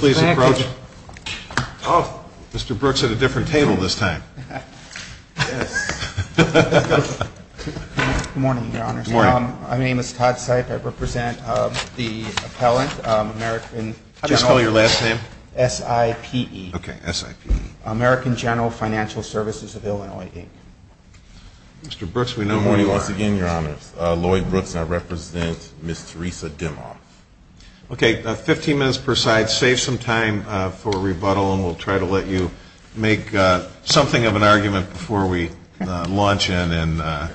Mr. Brooks at a different table this time. Good morning, Your Honors. My name is Todd Seip. I represent the appellant, American General S.I.P.E. American General Financial Services of Illinois, Inc. Mr. Brooks, we know who you are. Good morning once again, Your Honors. Lloyd Brooks and I represent Ms. Theresa Dimoff. Okay, 15 minutes per side. Let's save some time for rebuttal and we'll try to let you make something of an argument before we launch in and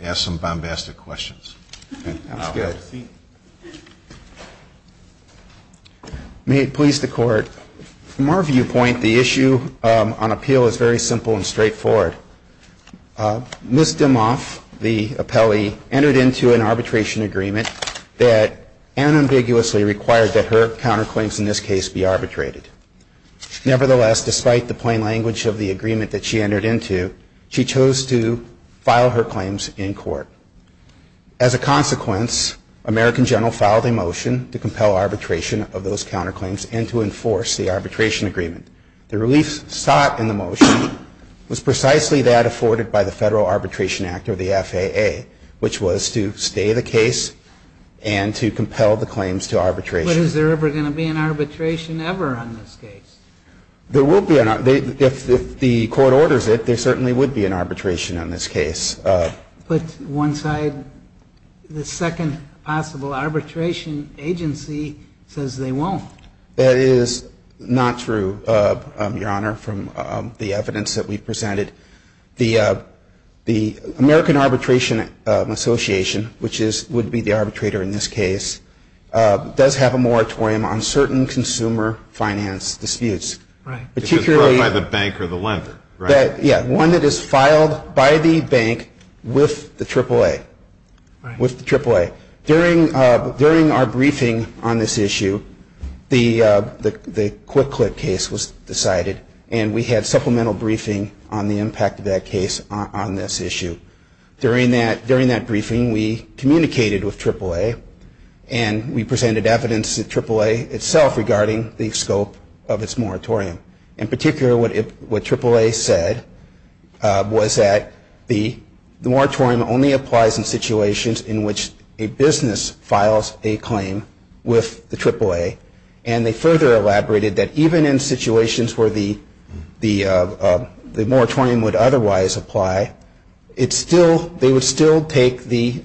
ask some bombastic questions. May it please the Court, from our viewpoint, the issue on appeal is very simple and straightforward. Ms. Dimoff, the appellee, entered into an arbitration agreement that unambiguously required that her counterclaims in this case be arbitrated. Nevertheless, despite the plain language of the agreement that she entered into, she chose to file her claims in court. As a consequence, American General filed a motion to compel arbitration of those counterclaims and to enforce the arbitration agreement. The relief sought in the motion was precisely that afforded by the Federal Arbitration Act, or the FAA, which was to stay the case and to compel the arbitration of those counterclaims and to enforce the arbitration agreement. And that's what we're trying to do here, is to make it clear to the Court that there is no possibility that there is ever going to be an arbitration ever on this case. There will be. If the Court orders it, there certainly would be an arbitration on this case. But one side, the second possible arbitration agency says they won't. That is not true, Your Honor, from the evidence that we've presented. The American Arbitration Association, which would be the arbitrator in this case, does have a moratorium on certain consumer finance disputes. Right. Particularly If it's brought by the bank or the lender, right? Yeah, one that is filed by the bank with the AAA. Right. With the AAA. During our briefing on this issue, the Quick Clip case was decided and we had supplemental briefing on the impact of that case on this issue. During that briefing, we communicated with AAA and we presented evidence to AAA itself regarding the scope of its moratorium. In particular, what AAA said was that the moratorium only applies in situations in which a business files a claim with the AAA. And they further elaborated that even in situations where the moratorium would otherwise apply, they would still take the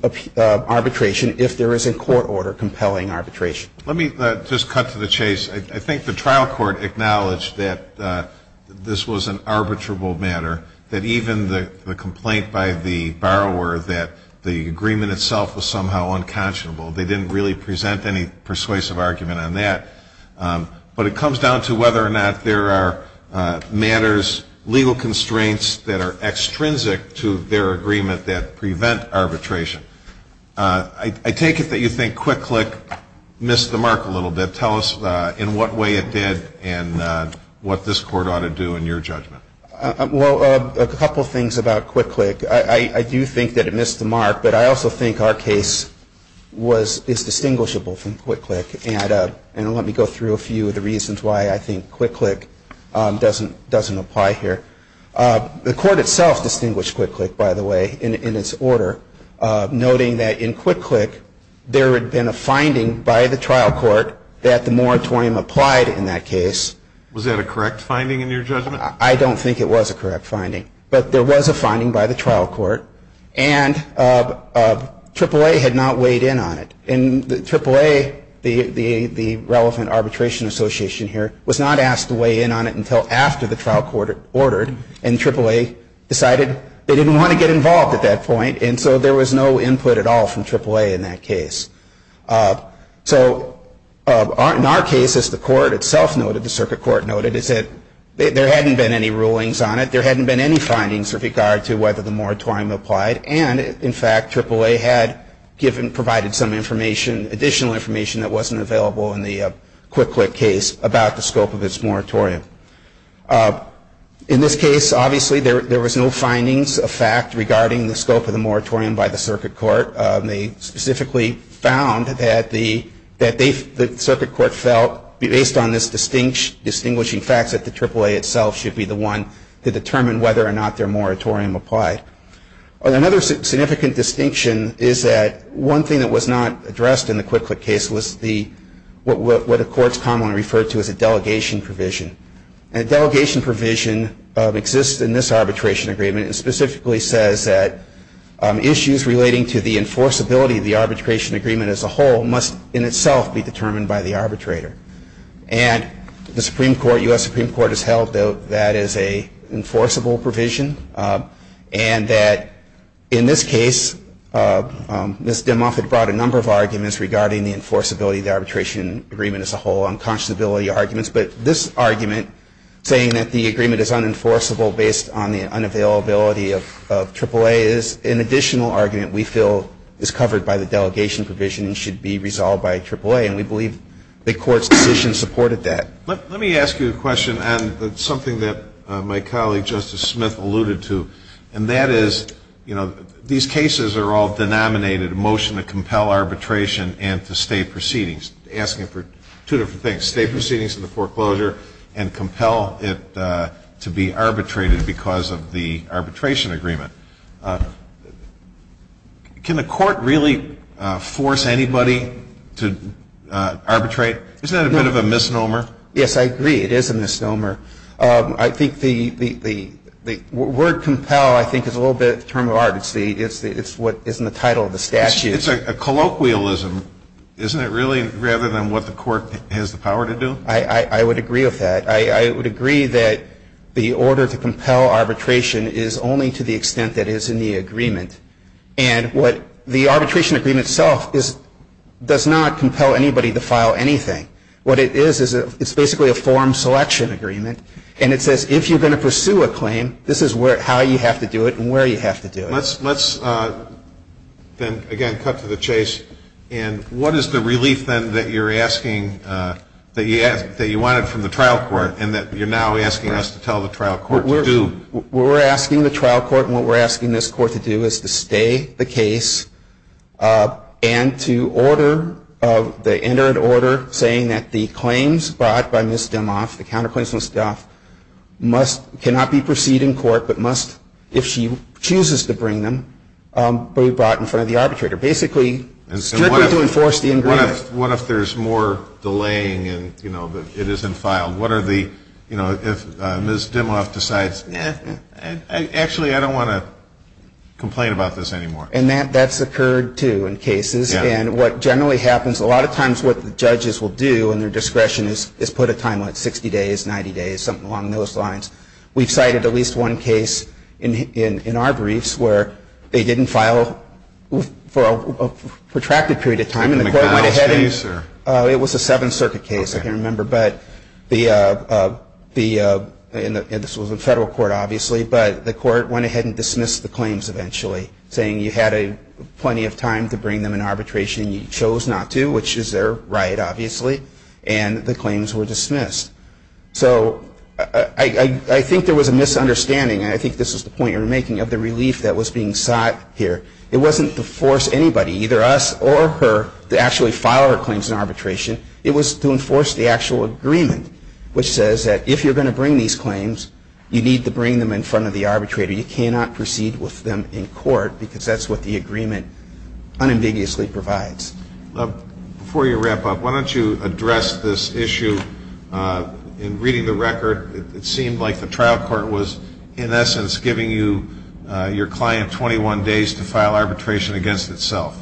arbitration if there is a court order compelling arbitration. Let me just cut to the chase. I think the trial court acknowledged that this was an arbitrable matter, that even the complaint by the borrower that the agreement itself was somehow unconscionable, they didn't really present any persuasive argument on that. But it comes down to whether or not there are matters, legal constraints that are extrinsic to their agreement that prevent arbitration. I take it that you think Quick Clip missed the mark a little bit. Tell us in what way it did and what this court ought to do in your judgment. Well, a couple of things about Quick Clip. I do think that it missed the mark, but I also think our case is distinguishable from Quick Clip. And let me go through a few of the reasons why I think Quick Clip doesn't apply here. The court itself distinguished Quick Clip, by the way, in its order, noting that in Quick Clip there had been a finding by the trial court that the moratorium applied in that case. Was that a correct finding in your judgment? I don't think it was a correct finding. But there was a finding by the trial court. And AAA had not weighed in on it. And AAA, the relevant arbitration association here, was not asked to weigh in on it until after the trial court ordered. And AAA decided they didn't want to get involved at that point. And so there was no input at all from AAA in that case. So in our case, as the court itself noted, the circuit court noted, is that there hadn't been any rulings on it. There hadn't been any findings with regard to whether the moratorium applied. And, in fact, AAA had provided some additional information that wasn't available in the Quick Clip case about the scope of its moratorium. In this case, obviously, there was no findings of fact regarding the scope of the moratorium by the circuit court. They specifically found that the circuit court felt, based on this distinguishing fact, that the AAA itself should be the one to determine whether or not their Another significant distinction is that one thing that was not addressed in the Quick Clip case was what the courts commonly refer to as a delegation provision. And a delegation provision exists in this arbitration agreement. It specifically says that issues relating to the enforceability of the arbitration agreement as a whole must, in itself, be determined by the arbitrator. And the Supreme Court, U.S. Supreme Court, has held that that is an enforceable provision and that, in this case, Ms. Dimoff had brought a number of arguments regarding the enforceability of the arbitration agreement as a whole, unconscionability arguments. But this argument, saying that the agreement is unenforceable based on the unavailability of AAA, is an additional argument we feel is covered by the delegation provision and should be resolved by AAA. And we believe the court's decision supported that. Let me ask you a question on something that my colleague, Justice Smith, alluded to. And that is, you know, these cases are all denominated, a motion to compel arbitration and to stay proceedings. Asking for two different things, stay proceedings in the foreclosure and compel it to be arbitrated because of the arbitration agreement. Can the court really force anybody to arbitrate? Isn't that a bit of a misnomer? Yes, I agree. It is a misnomer. I think the word compel, I think, is a little bit of a term of art. It's what is in the title of the statute. It's a colloquialism, isn't it, really, rather than what the court has the power to do? I would agree with that. I would agree that the order to compel arbitration is only to the extent that is in the agreement. And the arbitration agreement itself does not compel anybody to file anything. What it is, it's basically a form selection agreement. And it says, if you're going to pursue a claim, this is how you have to do it and where you have to do it. Let's then, again, cut to the chase. And what is the relief, then, that you're asking, that you wanted from the trial court and that you're now asking us to tell the trial court to do? We're asking the trial court, and what we're asking this court to do, is to stay the case and to order the entered order saying that the claims brought by Ms. Dimoff, the counterclaims of Ms. Dimoff, cannot be perceived in court, but must, if she chooses to bring them, be brought in front of the arbitrator. Basically, strictly to enforce the agreement. What if there's more delaying and it isn't filed? What are the, you know, if Ms. Dimoff decides, eh, actually, I don't want to complain about this anymore. And that's occurred, too, in cases. And what generally happens, a lot of times what the judges will do in their discretion is put a time limit, 60 days, 90 days, something along those lines. We've cited at least one case in our briefs where they didn't file for a protracted period of time and the court went ahead and it was a Seventh Amendment case, it was a federal court, obviously, but the court went ahead and dismissed the claims eventually, saying you had plenty of time to bring them in arbitration and you chose not to, which is their right, obviously, and the claims were dismissed. So, I think there was a misunderstanding, and I think this is the point you're making, of the relief that was being sought here. It wasn't to force anybody, either us or her, to actually file our claims in arbitration. It was to enforce the actual agreement, which says that if you're going to bring these claims, you need to bring them in front of the arbitrator. You cannot proceed with them in court, because that's what the agreement unambiguously provides. Before you wrap up, why don't you address this issue in reading the record. It seemed like the trial court was, in essence, giving you, your client, 21 days to file arbitration against itself.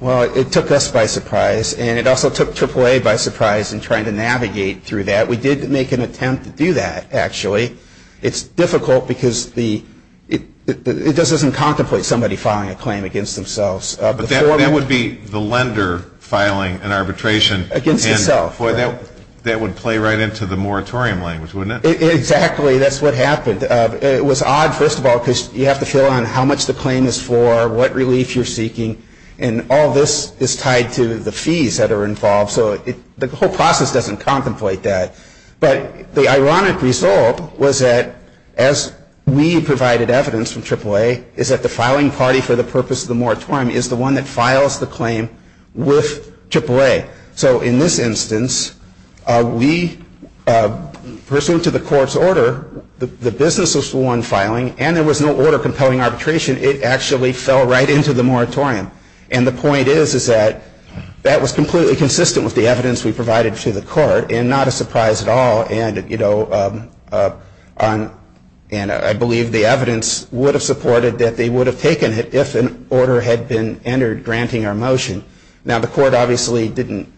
Well, it took us by surprise, and it also took AAA by surprise in trying to navigate through that. We did make an attempt to do that, actually. It's difficult because it doesn't contemplate somebody filing a claim against themselves. But that would be the lender filing an arbitration. Against himself. That would play right into the moratorium language, wouldn't it? Exactly. That's what happened. It was odd, first of all, because you have to determine what the claim is for, what relief you're seeking, and all this is tied to the fees that are involved. So the whole process doesn't contemplate that. But the ironic result was that, as we provided evidence from AAA, is that the filing party for the purpose of the moratorium is the one that files the claim with AAA. So in this instance, we, pursuant to the court's order, the business was the lender filing, and there was no order compelling arbitration. It actually fell right into the moratorium. And the point is that that was completely consistent with the evidence we provided to the court, and not a surprise at all. And I believe the evidence would have supported that they would have taken it if an order had been entered granting our motion. Now, the court obviously didn't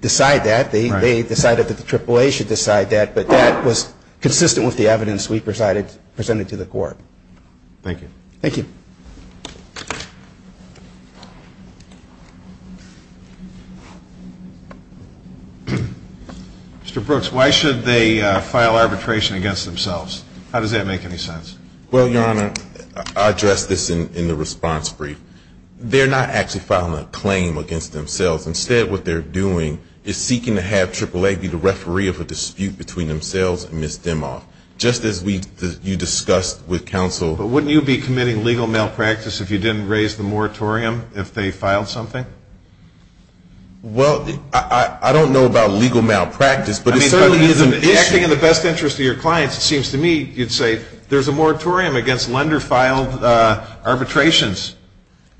decide that. They decided that the AAA should decide that. But that was consistent with the evidence we presented to the court. Thank you. Thank you. Mr. Brooks, why should they file arbitration against themselves? How does that make any sense? Well, Your Honor, I addressed this in the response brief. They're not actually filing a claim against themselves. Instead, what they're doing is seeking to have AAA be the referee of a dispute between themselves and miss them off, just as you discussed with counsel. But wouldn't you be committing legal malpractice if you didn't raise the moratorium if they filed something? Well, I don't know about legal malpractice, but it certainly is an issue. I mean, acting in the best interest of your clients, it seems to me you'd say there's a moratorium against lender-filed arbitrations.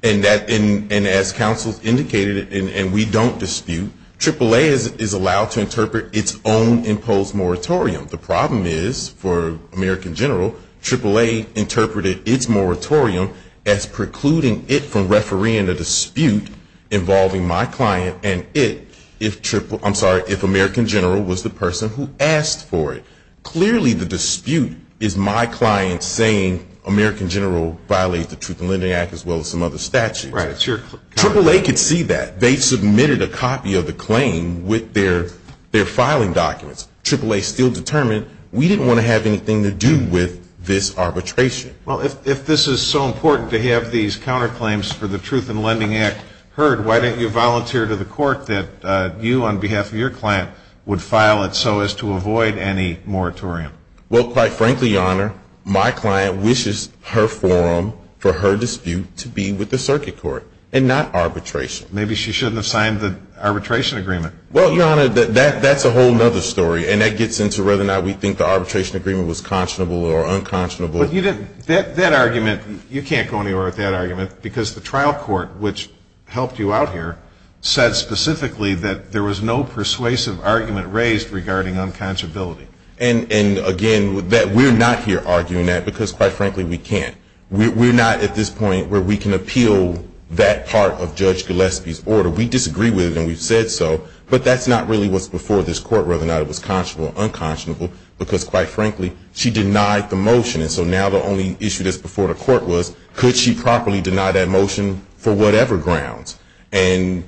And as counsel indicated, and we don't dispute, AAA is allowed to interpret its own imposed moratorium. The problem is, for American General, AAA interpreted its moratorium as precluding it from refereeing a dispute involving my client and it if American General was the person who asked for it. Clearly the dispute is my client saying American General violated the Truth in Lending Act as well as some other statutes. Right. It's your client. AAA could see that. They submitted a copy of the claim with their filing documents. AAA still determined we didn't want to have anything to do with this arbitration. Well, if this is so important to have these counterclaims for the Truth in Lending Act heard, why don't you volunteer to the court that you, on behalf of your client, would file it so as to avoid any moratorium? Well, quite frankly, Your Honor, my client wishes her forum for her dispute to be with the circuit court and not arbitration. Maybe she shouldn't have signed the arbitration agreement. Well, Your Honor, that's a whole other story, and that gets into whether or not we think the arbitration agreement was conscionable or unconscionable. That argument, you can't go anywhere with that argument because the trial court, which helped you out here, said specifically that there was no persuasive argument raised regarding unconscionability. And, again, we're not here arguing that because, quite frankly, we can't. We're not at this point where we can appeal that part of Judge Gillespie's order. We disagree with it, and we've said so, but that's not really what's before this court, whether or not it was conscionable or unconscionable, because, quite frankly, she denied the motion. And so now the only issue that's before the court was, could she properly deny that motion for whatever grounds? And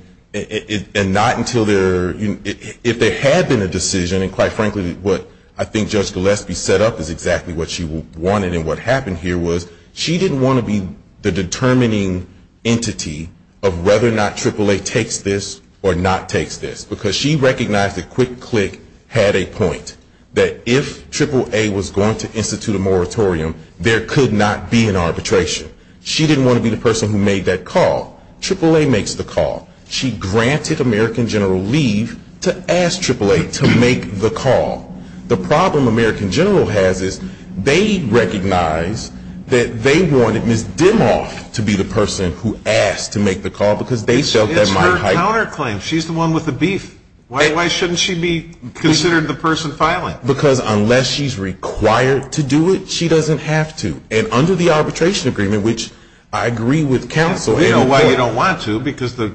not until there, if there had been a decision, and quite frankly what I think Judge Gillespie set up is exactly what she wanted and what happened here was she didn't want to be the determining entity of whether or not AAA takes this or not takes this, because she recognized that Quick Click had a point, that if AAA was going to institute a moratorium, there could not be an arbitration. She didn't want to be the person who made that call. AAA makes the call. She granted American General leave to ask AAA to make the call. The problem American General has is they recognize that they wanted Ms. Dimoff to be the person who asked to make the call, because they felt that might heighten. It's her counterclaim. She's the one with the beef. Why shouldn't she be considered the person filing? Because unless she's required to do it, she doesn't have to. And under the arbitration agreement, which I agree with counsel. You know why you don't want to, because Ms.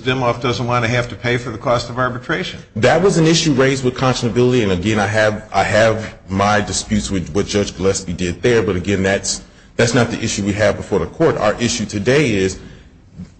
Dimoff doesn't want to have to pay for the cost of arbitration. That was an issue raised with conscionability. And, again, I have my disputes with what Judge Gillespie did there. But, again, that's not the issue we have before the court. Our issue today is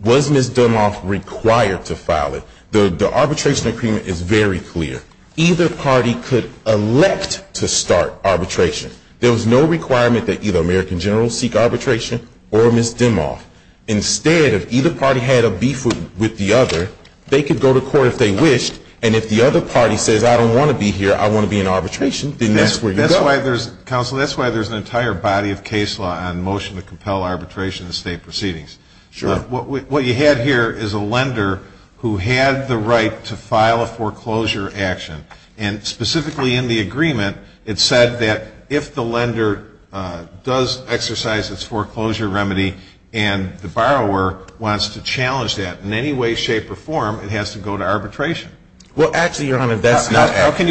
was Ms. Dimoff required to file it? The arbitration agreement is very clear. Either party could elect to start arbitration. There was no requirement that either American General seek arbitration or Ms. Dimoff. Instead, if either party had a beef with the other, they could go to court if they wished. And if the other party says I don't want to be here, I want to be in arbitration, then that's where you go. Counsel, that's why there's an entire body of case law on motion to compel arbitration in state proceedings. Sure. What you have here is a lender who had the right to file a foreclosure action. And specifically in the agreement, it said that if the lender does exercise its foreclosure remedy and the borrower wants to challenge that in any way, shape, or form, it has to go to arbitration. Well, actually, Your Honor, that's not how. How can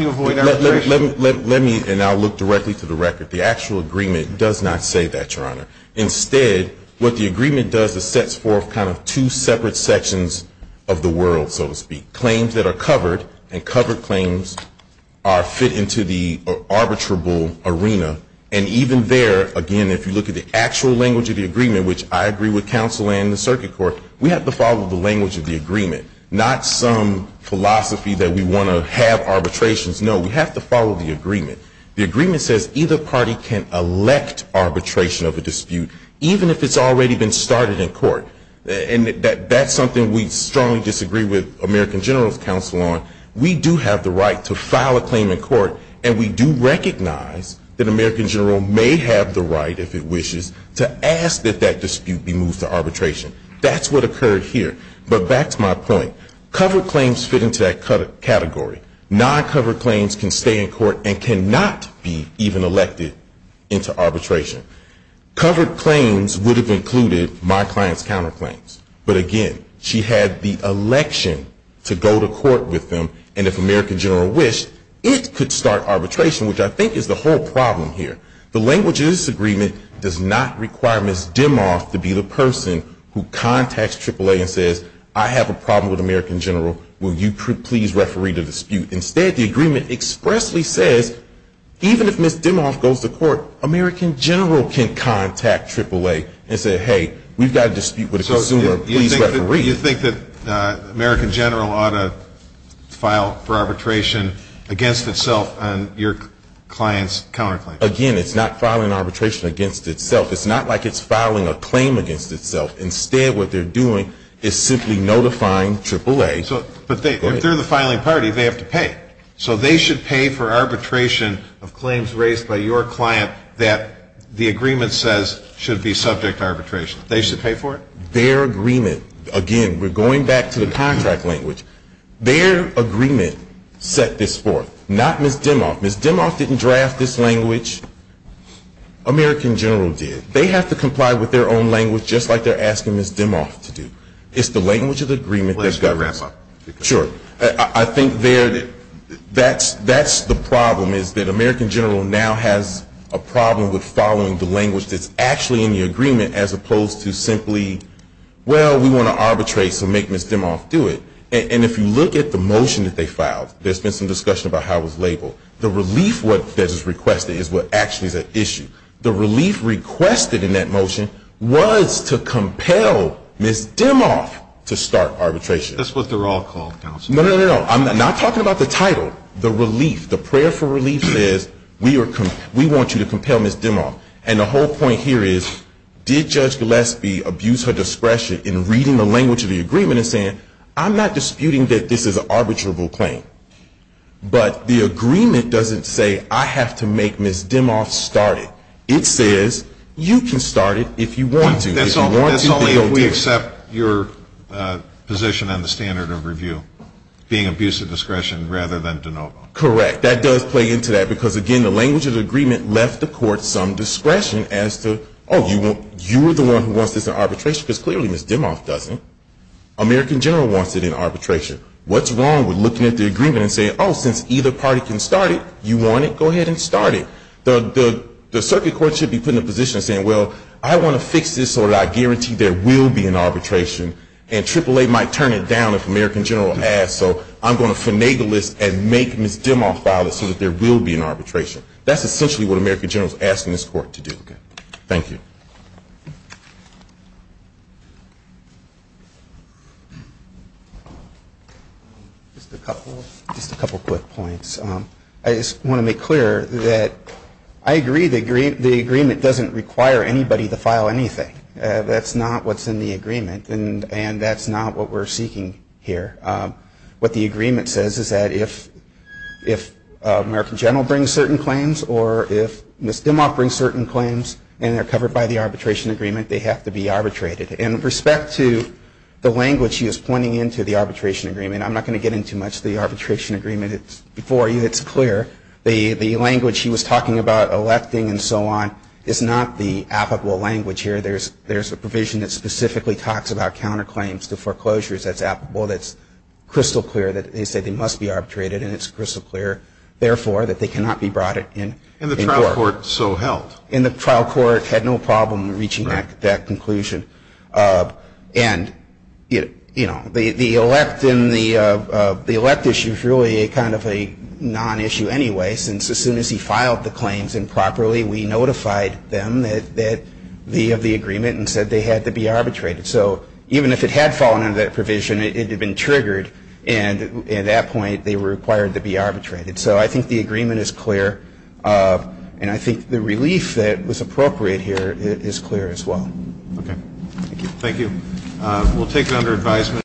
you avoid arbitration? Let me now look directly to the record. The actual agreement does not say that, Your Honor. Instead, what the agreement does is sets forth kind of two separate sections of the world, so to speak. Claims that are covered, and covered claims fit into the arbitrable arena. And even there, again, if you look at the actual language of the agreement, which I agree with counsel and the circuit court, we have to follow the language of the agreement, not some philosophy that we want to have arbitrations. No, we have to follow the agreement. The agreement says either party can elect arbitration of a dispute, even if it's already been started in court. And that's something we strongly disagree with American General's counsel on. We do have the right to file a claim in court, and we do recognize that American General may have the right, if it wishes, to ask that that dispute be moved to arbitration. That's what occurred here. But back to my point. Covered claims fit into that category. Non-covered claims can stay in court and cannot be even elected into arbitration. Covered claims would have included my client's counterclaims. But again, she had the election to go to court with them. And if American General wished, it could start arbitration, which I think is the whole problem here. The language of this agreement does not require Ms. Dimoff to be the person who contacts AAA and says, I have a problem with American General. Will you please referee the dispute? Instead, the agreement expressly says, even if Ms. Dimoff goes to court, American General can contact AAA and say, hey, we've got a dispute with a consumer. Please referee. You think that American General ought to file for arbitration against itself on your client's counterclaims? Again, it's not filing arbitration against itself. It's not like it's filing a claim against itself. Instead, what they're doing is simply notifying AAA. But if they're the filing party, they have to pay. So they should pay for arbitration of claims raised by your client that the agreement says should be subject to arbitration. They should pay for it? Their agreement, again, we're going back to the contract language. Their agreement set this forth, not Ms. Dimoff. Ms. Dimoff didn't draft this language. American General did. They have to comply with their own language just like they're asking Ms. Dimoff to do. It's the language of the agreement that governs. Please wrap up. Sure. I think that's the problem, is that American General now has a problem with following the language that's actually in the agreement as opposed to simply, well, we want to arbitrate, so make Ms. Dimoff do it. And if you look at the motion that they filed, there's been some discussion about how it was labeled. The relief that is requested is what actually is at issue. The relief requested in that motion was to compel Ms. Dimoff to start arbitration. That's what they're all called, counsel. No, no, no, no. I'm not talking about the title. The relief, the prayer for relief says we want you to compel Ms. Dimoff. And the whole point here is, did Judge Gillespie abuse her discretion in reading the language of the agreement and saying, I'm not disputing that this is an arbitrable claim, but the agreement doesn't say I have to make Ms. Dimoff start it. It says you can start it if you want to. That's only if we accept your position on the standard of review, being abuse of discretion rather than de novo. Correct. That does play into that, because, again, the language of the agreement left the court some discretion as to, oh, you're the one who wants this in arbitration, because clearly Ms. Dimoff doesn't. American General wants it in arbitration. What's wrong with looking at the agreement and saying, oh, since either party can start it, you want it, go ahead and start it. The circuit court should be put in the position of saying, well, I want to fix this so that I guarantee there will be an arbitration. And AAA might turn it down if American General asks. So I'm going to finagle this and make Ms. Dimoff file it so that there will be an arbitration. That's essentially what American General is asking this court to do. Thank you. Just a couple quick points. I just want to make clear that I agree the agreement doesn't require anybody to file anything. That's not what's in the agreement. And that's not what we're seeking here. What the agreement says is that if American General brings certain claims or if Ms. Dimoff brings certain claims and they're covered by the arbitration agreement, they have to be arbitrated. And with respect to the language she was pointing into, the arbitration agreement, I'm not going to get into much of the arbitration agreement before you. It's clear. The language she was talking about, electing and so on, is not the applicable language here. There's a provision that specifically talks about counterclaims to foreclosures. That's crystal clear that they say they must be arbitrated, and it's crystal clear, therefore, that they cannot be brought in court. And the trial court so held. And the trial court had no problem reaching that conclusion. And, you know, the elect issue is really kind of a non-issue anyway since as soon as he filed the claims improperly, we notified them of the agreement and said they had to be arbitrated. So even if it had fallen under that provision, it had been triggered, and at that point they were required to be arbitrated. So I think the agreement is clear, and I think the relief that was appropriate here is clear as well. Okay. Thank you. Thank you. We'll take it under advisement.